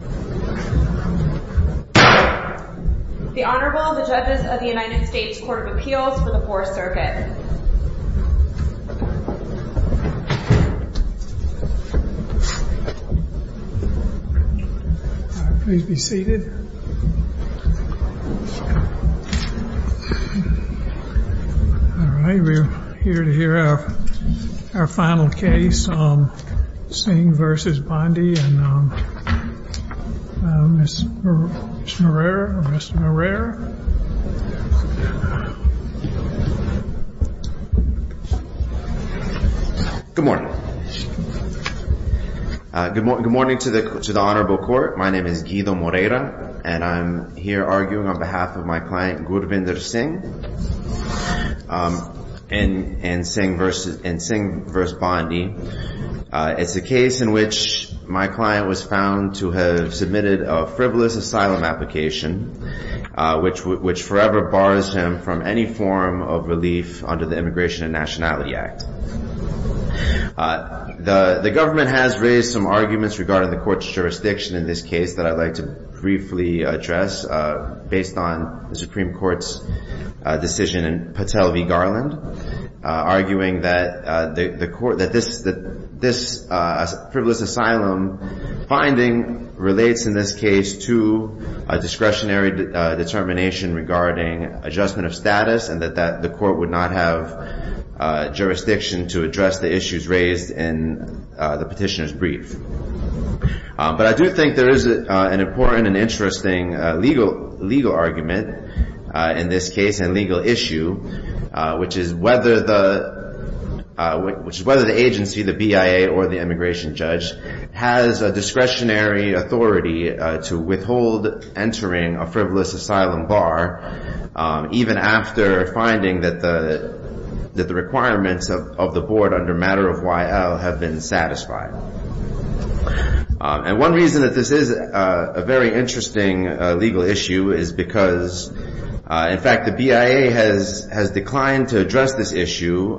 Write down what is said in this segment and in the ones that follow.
The Honorable and the Judges of the United States Court of Appeals for the 4th Circuit Please be seated We are here to hear our final case, Singh v. Bondi and Ms. Moreira Good morning Good morning to the Honorable Court, my name is Guido Moreira and I'm here arguing on behalf of my client Gurwinder Singh and Singh v. Bondi It's a case in which my client was found to have submitted a frivolous asylum application which forever bars him from any form of relief under the Immigration and Nationality Act The government has raised some arguments regarding the court's jurisdiction in this case that I'd like to briefly address based on the Supreme Court's decision in Patel v. Garland arguing that this frivolous asylum finding relates in this case to a discretionary determination regarding adjustment of status and that the court would not have jurisdiction to address the issues raised in the petitioner's brief But I do think there is an important and interesting legal argument in this case and legal issue which is whether the agency, the BIA or the immigration judge has a discretionary authority to withhold entering a frivolous asylum bar even after finding that the requirements of the board under matter of Y.L. have been satisfied And one reason that this is a very interesting legal issue is because in fact the BIA has declined to address this issue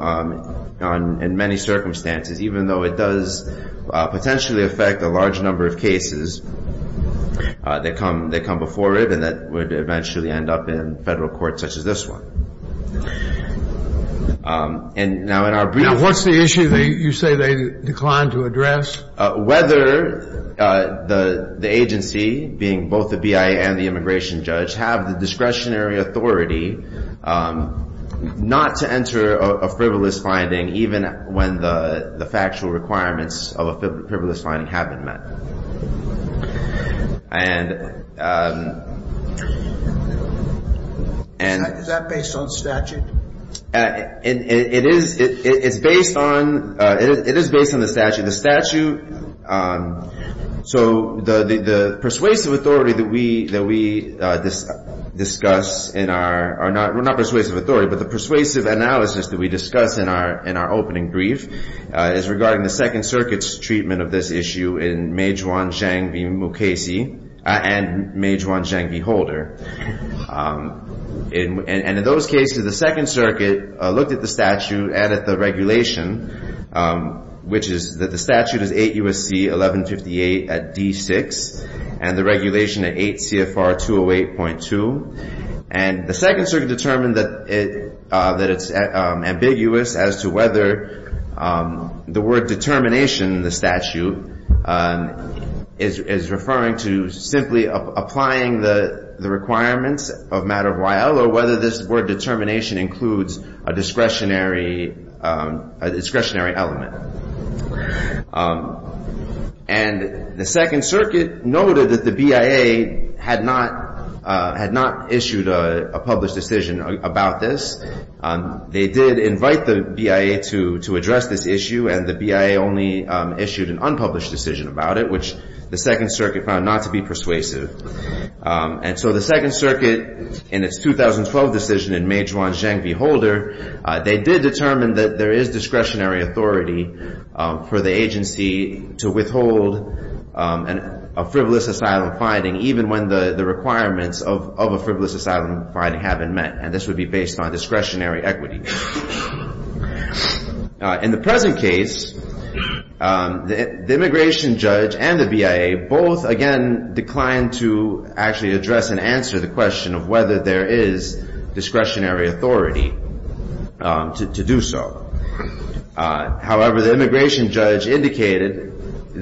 in many circumstances even though it does potentially affect a large number of cases that come before it and that would eventually end up in federal court such as this one Now what's the issue you say they declined to address? Whether the agency, being both the BIA and the immigration judge, have the discretionary authority not to enter a frivolous finding even when the factual requirements of a frivolous finding have been met Is that based on statute? It is based on the statute The persuasive analysis that we discuss in our opening brief is regarding the 2nd Circuit's treatment of this issue in Meijuan Zhang v. Mukasey and Meijuan Zhang v. Holder And in those cases the 2nd Circuit looked at the statute and at the regulation which is that the statute is 8 U.S.C. 1158 at D6 and the regulation at 8 CFR 208.2 And the 2nd Circuit determined that it's ambiguous as to whether the word determination in the statute is referring to simply applying the requirements of matter of YL or whether this word determination includes a discretionary element And the 2nd Circuit noted that the BIA had not issued a published decision about this They did invite the BIA to address this issue and the BIA only issued an unpublished decision about it which the 2nd Circuit found not to be persuasive And so the 2nd Circuit in its 2012 decision in Meijuan Zhang v. Holder they did determine that there is discretionary authority for the agency to withhold a frivolous asylum finding even when the requirements of a frivolous asylum finding have been met and this would be based on discretionary equity In the present case, the immigration judge and the BIA both, again, declined to actually address and answer the question of whether there is discretionary authority to do so However, the immigration judge indicated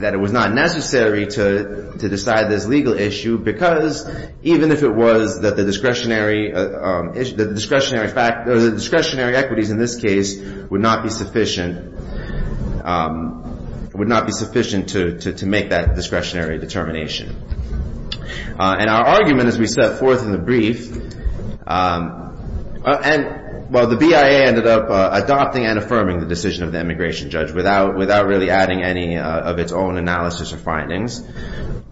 that it was not necessary to decide this legal issue because even if it was that the discretionary equities in this case would not be sufficient to make that discretionary determination And our argument as we set forth in the brief Well, the BIA ended up adopting and affirming the decision of the immigration judge without really adding any of its own analysis or findings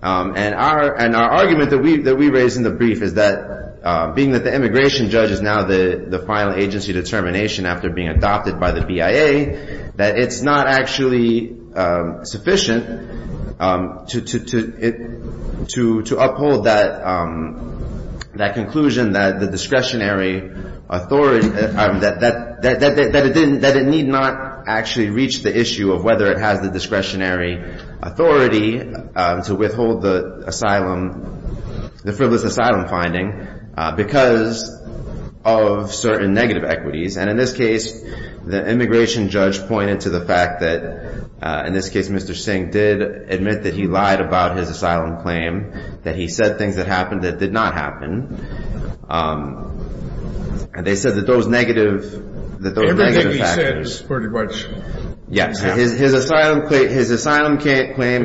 And our argument that we raised in the brief is that being that the immigration judge is now the final agency determination after being adopted by the BIA that it's not actually sufficient to uphold that conclusion that it need not actually reach the issue of whether it has the discretionary authority to withhold the frivolous asylum finding because of certain negative equities And in this case, the immigration judge pointed to the fact that in this case, Mr. Singh did admit that he lied about his asylum claim that he said things that happened that did not happen They said that those negative factors Everything he said is pretty much Yes, his asylum claim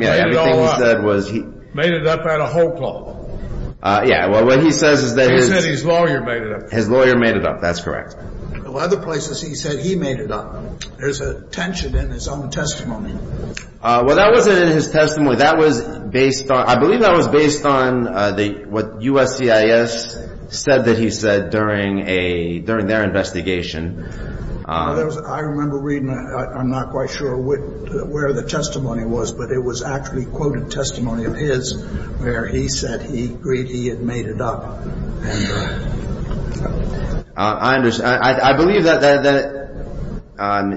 He made it all up Made it up out of hope law Yeah, well, what he says is that He said his lawyer made it up His lawyer made it up, that's correct Well, other places he said he made it up There's a tension in his own testimony Well, that wasn't in his testimony That was based on I believe that was based on what USCIS said that he said during their investigation I remember reading I'm not quite sure where the testimony was but it was actually quoted testimony of his where he said he agreed he had made it up I believe that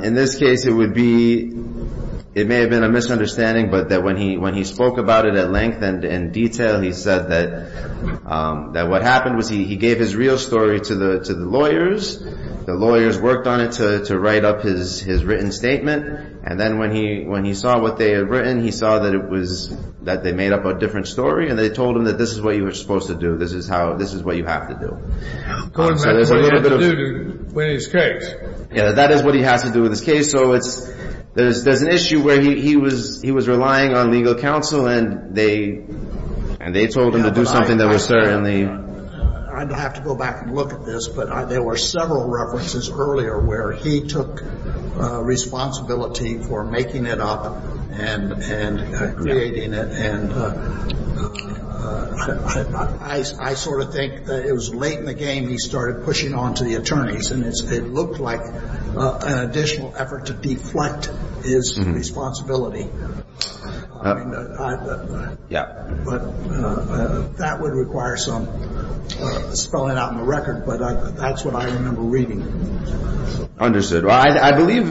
in this case it would be It may have been a misunderstanding but that when he spoke about it at length and in detail he said that what happened was he gave his real story to the lawyers The lawyers worked on it to write up his written statement And then when he saw what they had written he saw that it was that they made up a different story and they told him that this is what you were supposed to do This is what you have to do That's what he had to do to win his case Yeah, that is what he has to do with his case So there's an issue where he was relying on legal counsel and they told him to do something that was certainly I'd have to go back and look at this but there were several references earlier where he took responsibility for making it up and creating it I sort of think that it was late in the game he started pushing on to the attorneys and it looked like an additional effort to deflect his responsibility Yeah But that would require some spelling out in the record but that's what I remember reading Understood I believe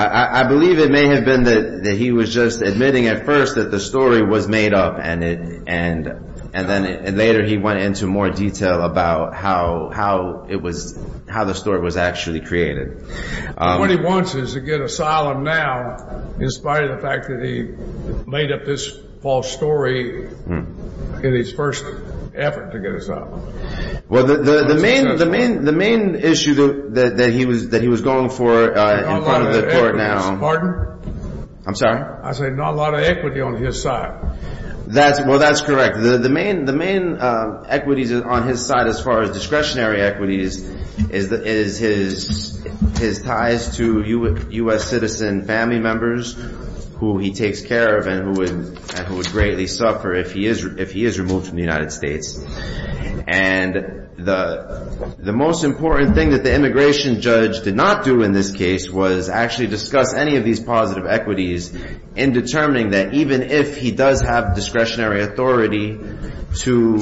I believe it may have been that he was just admitting at first that the story was made up and then later he went into more detail about how the story was actually created What he wants is to get asylum now in spite of the fact that he made up this false story in his first effort to get asylum Well, the main issue that he was going for in front of the court now Pardon? I'm sorry I said not a lot of equity on his side Well, that's correct The main equities on his side as far as discretionary equities is his ties to U.S. citizen family members who he takes care of and who would greatly suffer if he is removed from the United States And the most important thing that the immigration judge did not do in this case was actually discuss any of these positive equities in determining that even if he does have discretionary authority to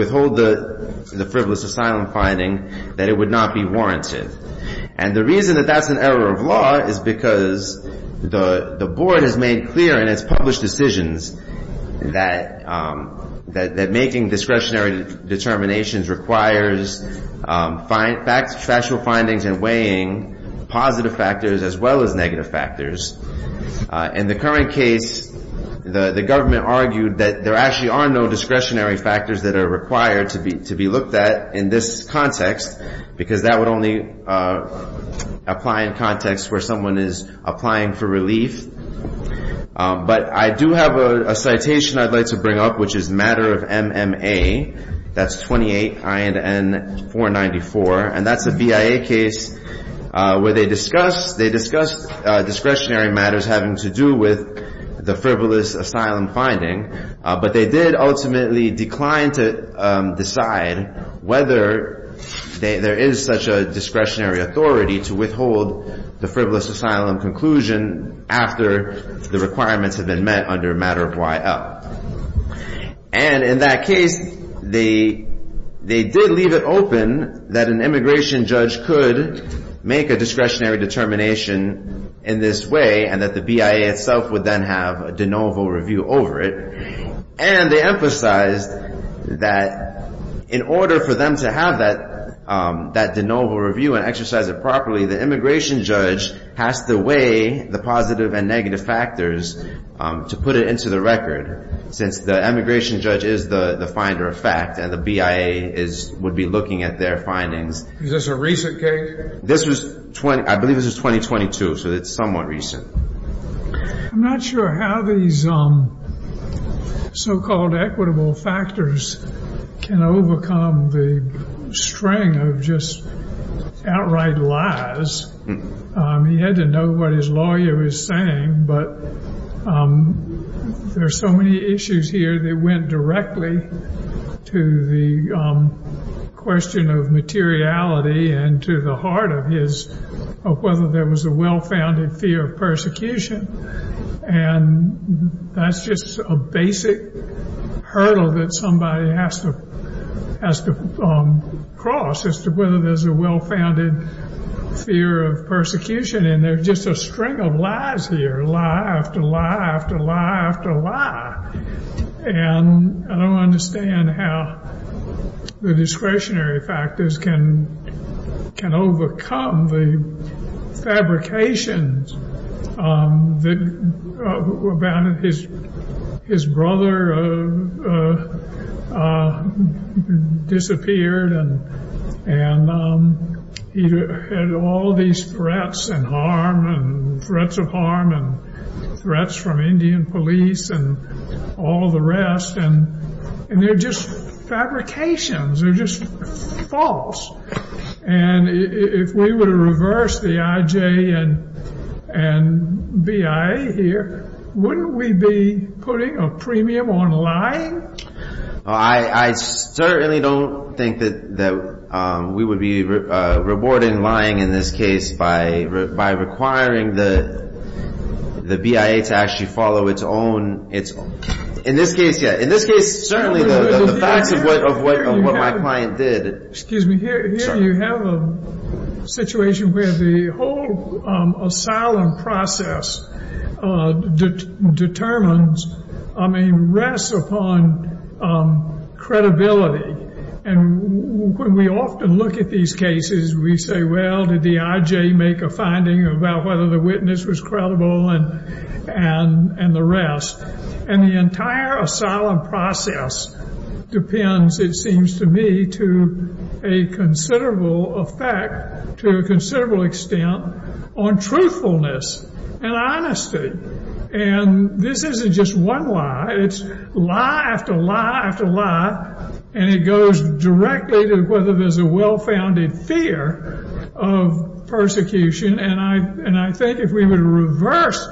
withhold the frivolous asylum finding that it would not be warranted And the reason that that's an error of law is because the board has made clear in its published decisions that making discretionary determinations requires factual findings and weighing positive factors as well as negative factors In the current case, the government argued that there actually are no discretionary factors that are required to be looked at in this context because that would only apply in contexts where someone is applying for relief But I do have a citation I'd like to bring up which is Matter of MMA That's 28 INN 494 And that's a BIA case where they discussed discretionary matters having to do with the frivolous asylum finding But they did ultimately decline to decide whether there is such a discretionary authority to withhold the frivolous asylum conclusion after the requirements have been met under Matter of YL And in that case, they did leave it open that an immigration judge could make a discretionary determination in this way and that the BIA itself would then have a de novo review over it And they emphasized that in order for them to have that de novo review and exercise it properly, the immigration judge has to weigh the positive and negative factors to put it into the record since the immigration judge is the finder of fact and the BIA would be looking at their findings Is this a recent case? I believe this is 2022, so it's somewhat recent I'm not sure how these so-called equitable factors can overcome the string of just outright lies He had to know what his lawyer was saying But there are so many issues here that went directly to the question of materiality and to the heart of whether there was a well-founded fear of persecution And that's just a basic hurdle that somebody has to cross as to whether there's a well-founded fear of persecution And there's just a string of lies here Lie after lie after lie after lie And I don't understand how the discretionary factors can overcome the fabrications about his brother disappeared and he had all these threats and harm and threats of harm and threats from Indian police and all the rest And they're just fabrications They're just false And if we were to reverse the IJ and BIA here wouldn't we be putting a premium on lying? I certainly don't think that we would be rewarding lying in this case by requiring the BIA to actually follow its own In this case, yeah In this case, certainly the facts of what my client did Excuse me Here you have a situation where the whole asylum process determines I mean, rests upon credibility And when we often look at these cases we say, well, did the IJ make a finding about whether the witness was credible and the rest And the entire asylum process depends, it seems to me to a considerable effect to a considerable extent on truthfulness and honesty And this isn't just one lie It's lie after lie after lie And it goes directly to whether there's a well-founded fear of persecution And I think if we were to reverse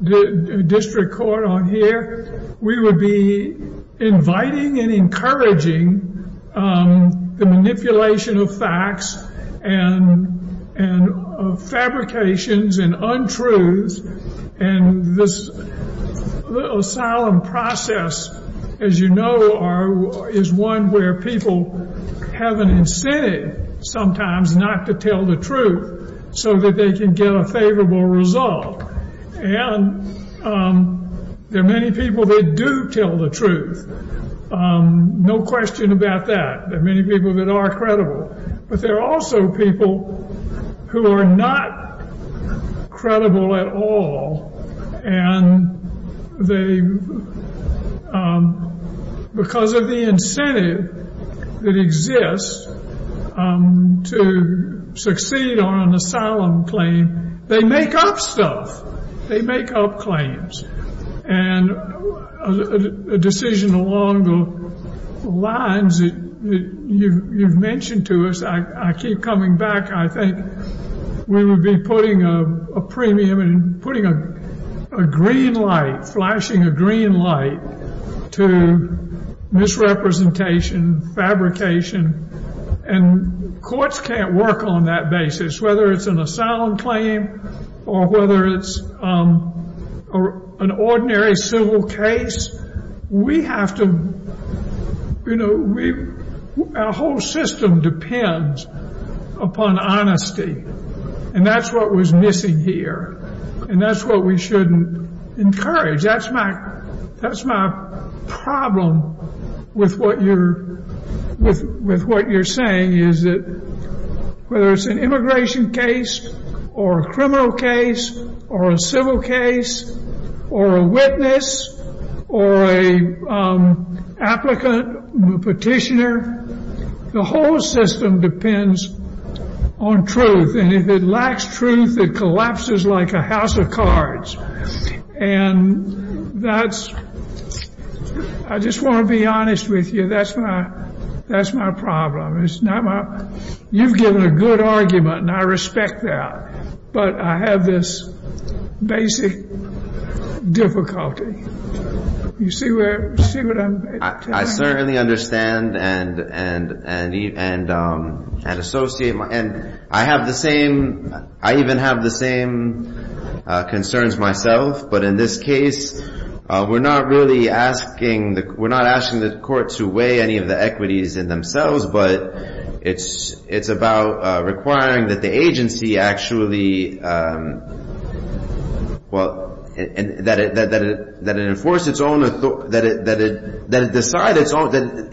the district court on here we would be inviting and encouraging the manipulation of facts and fabrications and untruths And this asylum process, as you know, is one where people have an incentive sometimes not to tell the truth so that they can get a favorable result And there are many people that do tell the truth No question about that There are many people that are credible But there are also people who are not credible at all And because of the incentive that exists to succeed on an asylum claim they make up stuff They make up claims And a decision along the lines that you've mentioned to us I keep coming back I think we would be putting a premium and putting a green light, flashing a green light to misrepresentation, fabrication And courts can't work on that basis Whether it's an asylum claim or whether it's an ordinary civil case Our whole system depends upon honesty And that's what was missing here And that's what we shouldn't encourage That's my problem with what you're saying Whether it's an immigration case or a criminal case or a civil case or a witness or an applicant, petitioner The whole system depends on truth And if it lacks truth, it collapses like a house of cards And that's... I just want to be honest with you That's my problem You've given a good argument, and I respect that But I have this basic difficulty You see what I'm saying? I certainly understand and associate And I have the same... I even have the same concerns myself But in this case, we're not really asking... We're not asking the court to weigh any of the equities in themselves But it's about requiring that the agency actually... Well, that it enforce its own... That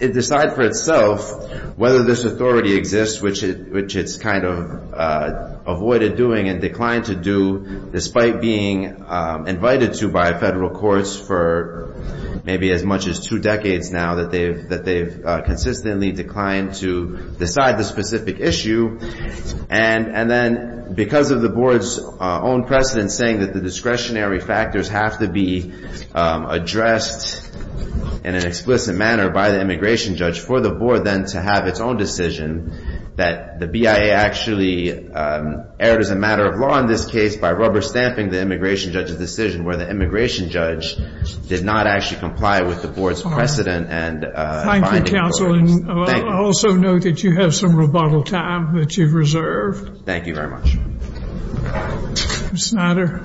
it decide for itself whether this authority exists which it's kind of avoided doing and declined to do despite being invited to by federal courts for maybe as much as two decades now that they've consistently declined to decide this specific issue And then, because of the board's own precedent saying that the discretionary factors have to be addressed in an explicit manner by the immigration judge for the board then to have its own decision that the BIA actually erred as a matter of law in this case by rubber-stamping the immigration judge's decision where the immigration judge did not actually comply with the board's precedent and... Thank you, counsel. Also note that you have some rebuttal time that you've reserved. Thank you very much. Ms. Snyder.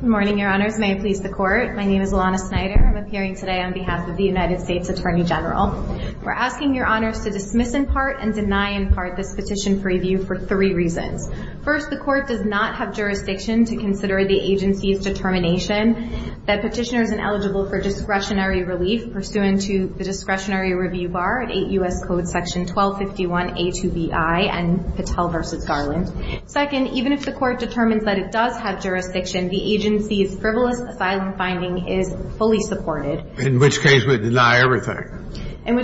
Good morning, your honors. May it please the court. My name is Alana Snyder. I'm appearing today on behalf of the United States Attorney General We're asking your honors to dismiss in part and deny in part this petition for review for three reasons. First, the court does not have jurisdiction to consider the agency's determination that petitioner is ineligible for discretionary relief pursuant to the discretionary review bar 8 U.S. Code section 1251 A2BI and Patel v. Garland. Second, even if the court determines that it does have jurisdiction the agency's frivolous asylum finding is fully supported. In which case we deny everything. Deny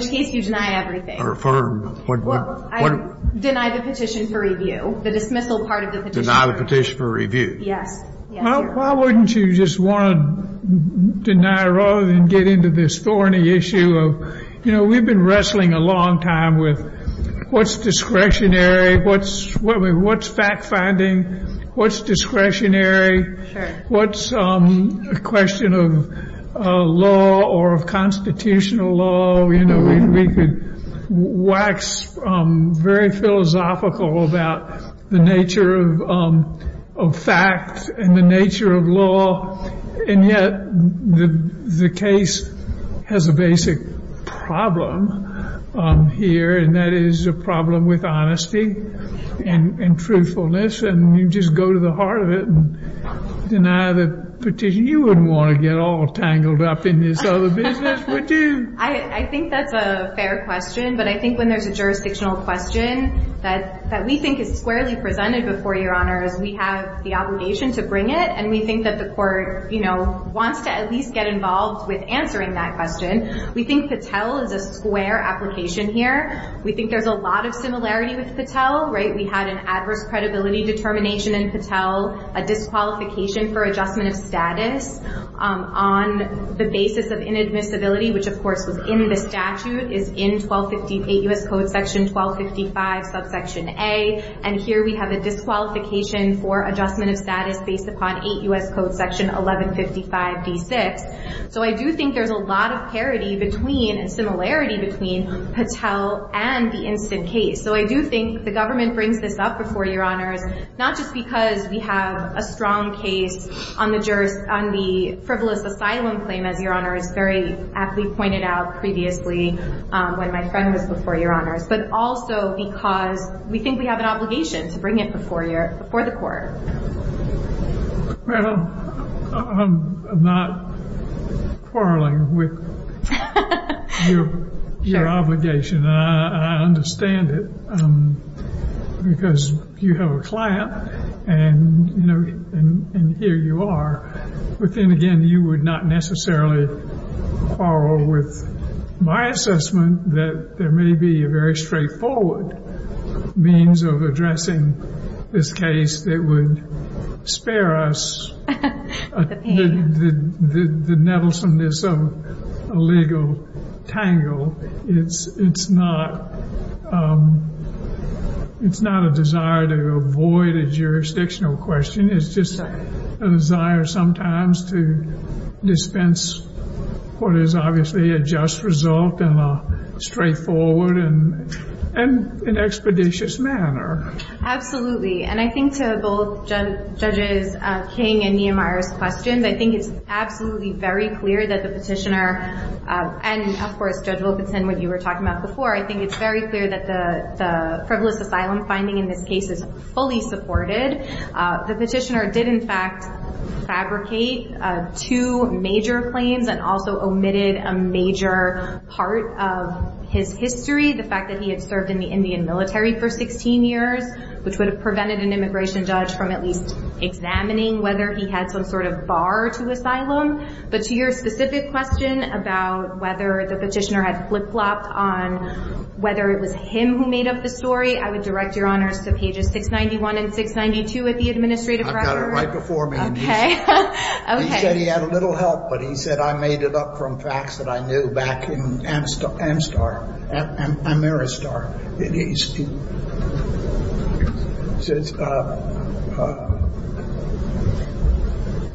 the petition for review. The dismissal part of the petition. Deny the petition for review. Yes. Why wouldn't you just want to deny rather than get into this thorny issue of, you know, we've been wrestling a long time with what's discretionary, what's fact-finding, what's discretionary, what's a question of law or of constitutional law. You know, we could wax very philosophical about the nature of facts and the nature of law. And yet the case has a basic problem here and that is a problem with honesty and truthfulness and you just go to the heart of it and deny the petition. You wouldn't want to get all tangled up in this other business, would you? I think that's a fair question but I think when there's a jurisdictional question that we think is squarely presented before your honors we have the obligation to bring it and we think that the court, you know, wants to at least get involved with answering that question. We think Patel is a square application here. We think there's a lot of similarity with Patel, right? We had an adverse credibility determination in Patel, a disqualification for adjustment of status on the basis of inadmissibility which of course was in the statute, is in 8 U.S. Code section 1255 subsection A and here we have a disqualification for adjustment of status based upon 8 U.S. Code section 1155 D6. So I do think there's a lot of parity between and similarity between Patel and the instant case. So I do think the government brings this up before your honors not just because we have a strong case on the frivolous asylum claim as your honors very aptly pointed out previously when my friend was before your honors but also because we think we have an obligation to bring it before the court. Well, I'm not quarreling with your obligation. I understand it because you have a client and here you are but then again you would not necessarily quarrel with my assessment that there may be a very straightforward means of addressing this case that would spare us the nevels and this illegal tangle. It's not a desire to avoid a jurisdictional question. It's just a desire sometimes to dispense what is obviously a just result in a straightforward and expeditious manner. And I think to both Judges King and Nehemiah's questions I think it's absolutely very clear that the petitioner and of course Judge Wilkinson what you were talking about before I think it's very clear that the frivolous asylum finding in this case is fully supported. The petitioner did in fact fabricate two major claims and also omitted a major part of his history the fact that he had served in the Indian military for 16 years which would have prevented an immigration judge from at least examining whether he had some sort of bar to asylum. But to your specific question about whether the petitioner had flip-flopped on whether it was him who made up the story I would direct your honors to pages 691 and 692 of the administrative record. I've got it right before me. Okay. He said he had a little help but he said I made it up from facts that I knew back in Amaristar. He says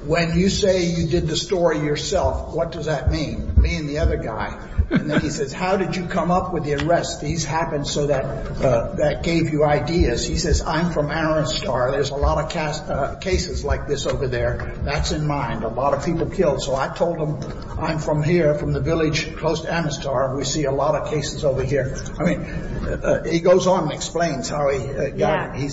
when you say you did the story yourself what does that mean? Me and the other guy. And then he says how did you come up with the arrest? These happened so that gave you ideas. He says I'm from Amaristar. There's a lot of cases like this over there. That's in mind. A lot of people killed. So I told him I'm from here from the village close to Amaristar and we see a lot of cases over here. He goes on and explains how he got it. He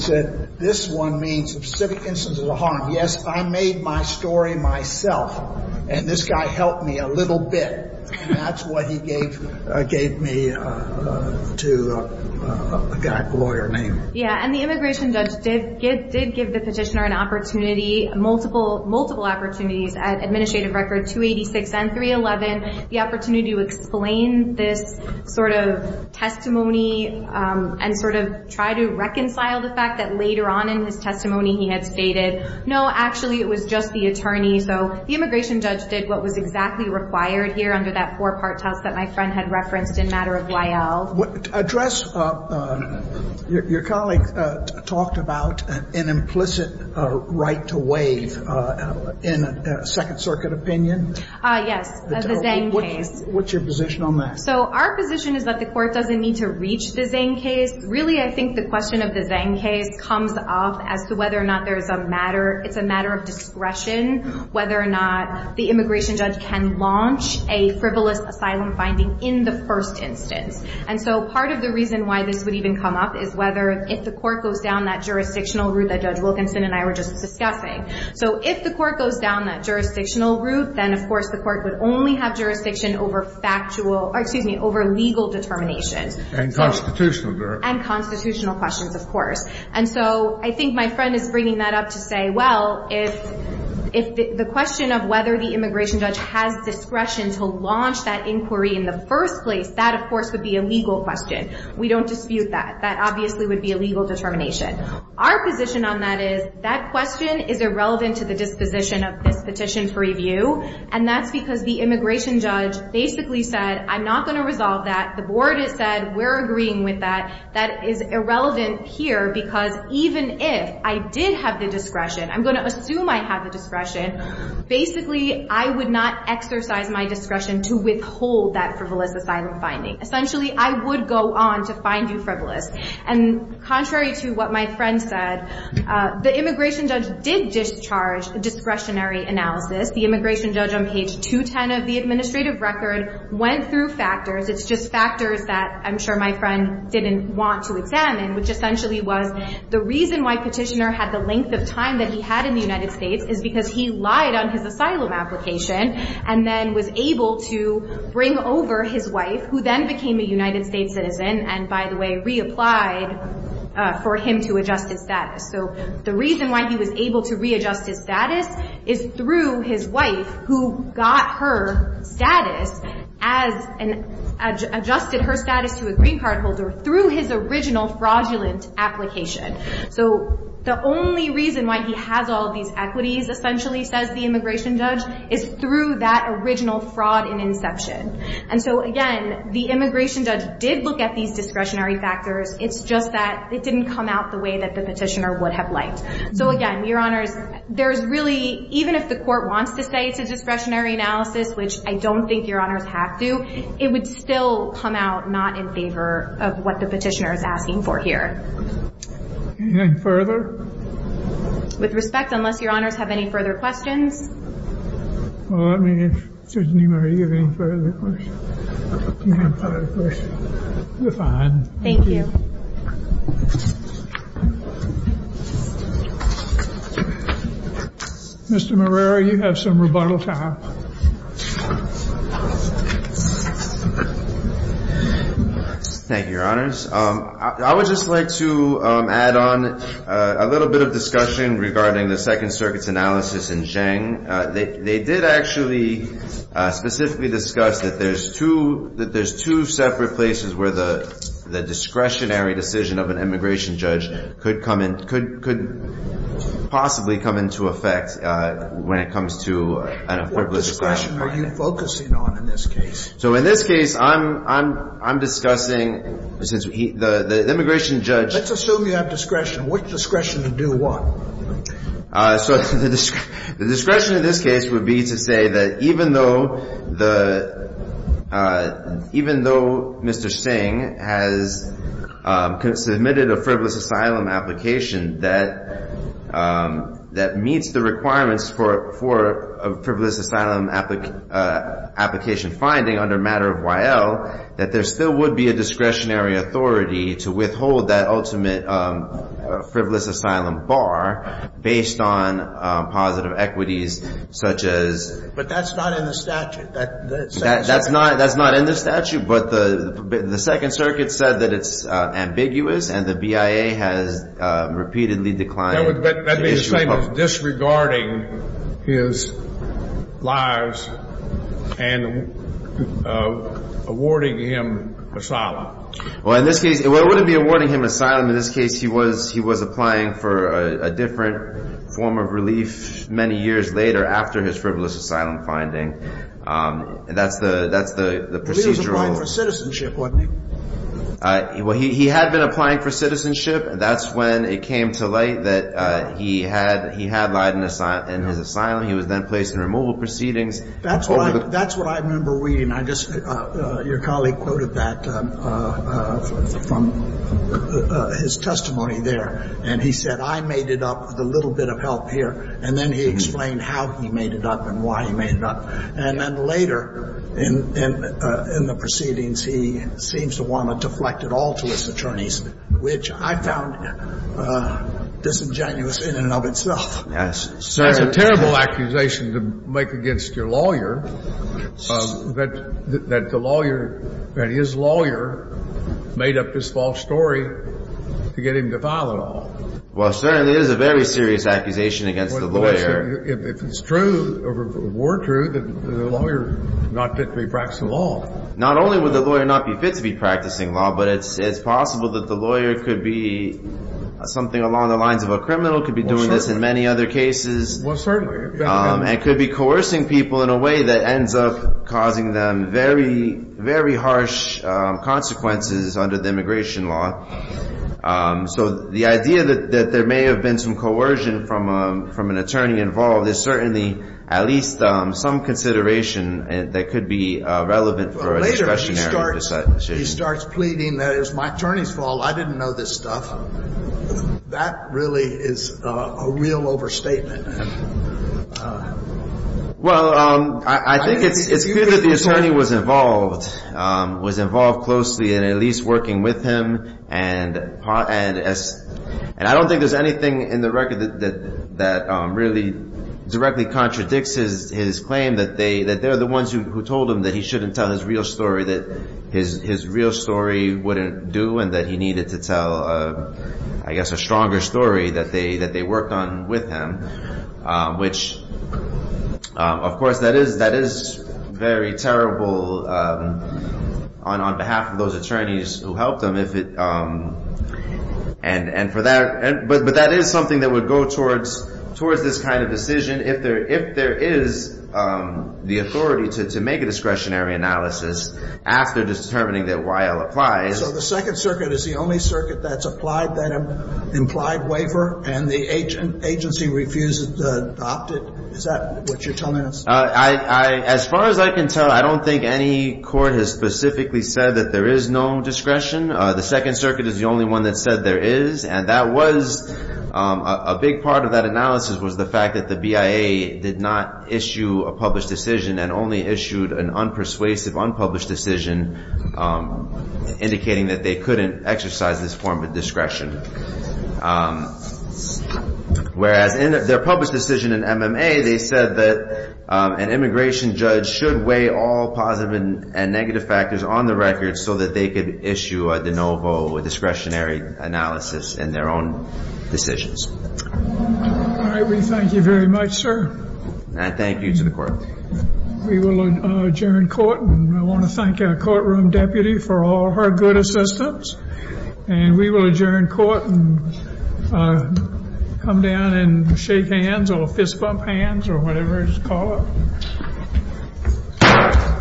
said this one means a specific instance of the harm. Yes, I made my story myself and this guy helped me a little bit. That's what he gave me to a guy with a lawyer name. Yeah, and the immigration judge did give the petitioner an opportunity, multiple opportunities at administrative record 286 and 311. The opportunity to explain this sort of testimony and sort of try to reconcile the fact that later on in his testimony he had stated no, actually it was just the attorney. So the immigration judge did what was exactly required here under that four-part test that my friend had referenced in matter of YL. Address your colleague talked about an implicit right to waive in a Second Circuit opinion. Yes, the Zane case. What's your position on that? So our position is that the court doesn't need to reach the Zane case. Really I think the question of the Zane case comes up as to whether or not it's a matter of discretion whether or not the immigration judge can launch a frivolous asylum finding in the first instance. And so part of the reason why this would even come up is whether if the court goes down that jurisdictional route that Judge Wilkinson and I were just discussing. So if the court goes down that jurisdictional route then of course the court would only have jurisdiction over factual or excuse me, over legal determinations. And constitutional jurors. And constitutional questions of course. And so I think my friend is bringing that up to say well if the question of whether the immigration judge has discretion to launch that inquiry in the first place that of course would be a legal question. We don't dispute that. That obviously would be a legal determination. Our position on that is that question is irrelevant to the disposition of this petition for review. And that's because the immigration judge basically said I'm not going to resolve that. The board has said we're agreeing with that. That is irrelevant here because even if I did have the discretion I'm going to assume I have the discretion. Basically I would not exercise my discretion to withhold that frivolous asylum finding. Essentially I would go on to find you frivolous. And contrary to what my friend said the immigration judge did discharge a discretionary analysis. The immigration judge on page 210 of the administrative record went through factors. It's just factors that I'm sure my friend didn't want to examine which essentially was the reason why Petitioner had the length of time that he had in the United States is because he lied on his asylum application and then was able to bring over his wife who then became a United States citizen and by the way reapplied for him to adjust his status. So the reason why he was able to readjust his status is through his wife who got her status and adjusted her status to a green card holder through his original fraudulent application. So the only reason why he has all these equities essentially says the immigration judge is through that original fraud in inception. And so again the immigration judge did look at these discretionary factors it's just that it didn't come out the way that the petitioner would have liked. So again your honors there's really even if the court wants to say it's a discretionary analysis which I don't think your honors have to it would still come out not in favor of what the petitioner is asking for here. Anything further? With respect unless your honors have any further questions. Well let me know if there's any further questions. You're fine. Thank you. Mr. Marrero you have some rebuttal time. Thank you your honors. I would just like to add on a little bit of discussion regarding the Second Circuit's analysis in Cheng. They did actually specifically discuss that there's two separate places where the discretionary decision of an immigration judge could possibly come into effect when it comes to an important discretion. What discretion are you focusing on in this case? So in this case I'm discussing since the immigration judge Let's assume you have discretion. Which discretion to do what? So the discretion in this case would be to say that even though Mr. Singh has submitted a frivolous asylum application that meets the requirements for a frivolous asylum application finding under matter of Y.L. that there still would be a discretionary authority to withhold that ultimate frivolous asylum bar based on positive equities such as But that's not in the statute. That's not in the statute but the Second Circuit said that it's ambiguous and the BIA has repeatedly declined That would be the same as disregarding his lives and awarding him asylum. Well in this case, well it wouldn't be awarding him asylum in this case he was applying for a different form of relief many years later after his frivolous asylum finding. That's the procedural But he was applying for citizenship wasn't he? Well he had been applying for citizenship that's when it came to light that he had lied in his asylum he was then placed in removal proceedings That's what I remember reading Your colleague quoted that from his testimony there and he said I made it up with a little bit of help here and then he explained how he made it up and why he made it up and then later in the proceedings he seems to want to deflect it all to his attorneys which I found disingenuous in and of itself. That's a terrible accusation to make against your lawyer that the lawyer, that his lawyer made up this false story to get him to file it all. Well certainly it is a very serious accusation against the lawyer If it's true, or were true that the lawyer is not fit to be practicing law Not only would the lawyer not be fit to be practicing law but it's possible that the lawyer could be something along the lines of a criminal could be doing this in many other cases Well certainly and could be coercing people in a way that ends up causing them very, very harsh consequences under the immigration law So the idea that there may have been some coercion from an attorney involved is certainly at least some consideration that could be relevant for a discretionary decision He starts pleading that it was my attorney's fault I didn't know this stuff That really is a real overstatement Well, I think it's clear that the attorney was involved was involved closely and at least working with him and I don't think there's anything in the record that really directly contradicts his claim that they're the ones who told him that he shouldn't tell his real story that his real story wouldn't do and that he needed to tell, I guess, a stronger story that they worked on with him which, of course, that is very terrible on behalf of those attorneys who helped him But that is something that would go towards this kind of decision if there is the authority to make a discretionary analysis after determining that YL applies So the Second Circuit is the only circuit that's applied that implied waiver and the agency refuses to adopt it Is that what you're telling us? As far as I can tell I don't think any court has specifically said that there is no discretion The Second Circuit is the only one that said there is and that was, a big part of that analysis was the fact that the BIA did not issue a published decision and only issued an unpersuasive unpublished decision indicating that they couldn't exercise this form of discretion Whereas in their published decision in MMA they said that an immigration judge should weigh all positive and negative factors on the record so that they could issue a de novo discretionary analysis in their own decisions All right, we thank you very much, sir And thank you to the court We will adjourn court I want to thank our courtroom deputy for all her good assistance and we will adjourn court and come down and shake hands or fist bump hands or whatever you call it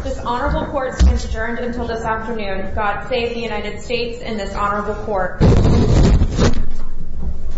This honorable court stands adjourned until this afternoon God save the United States and this honorable court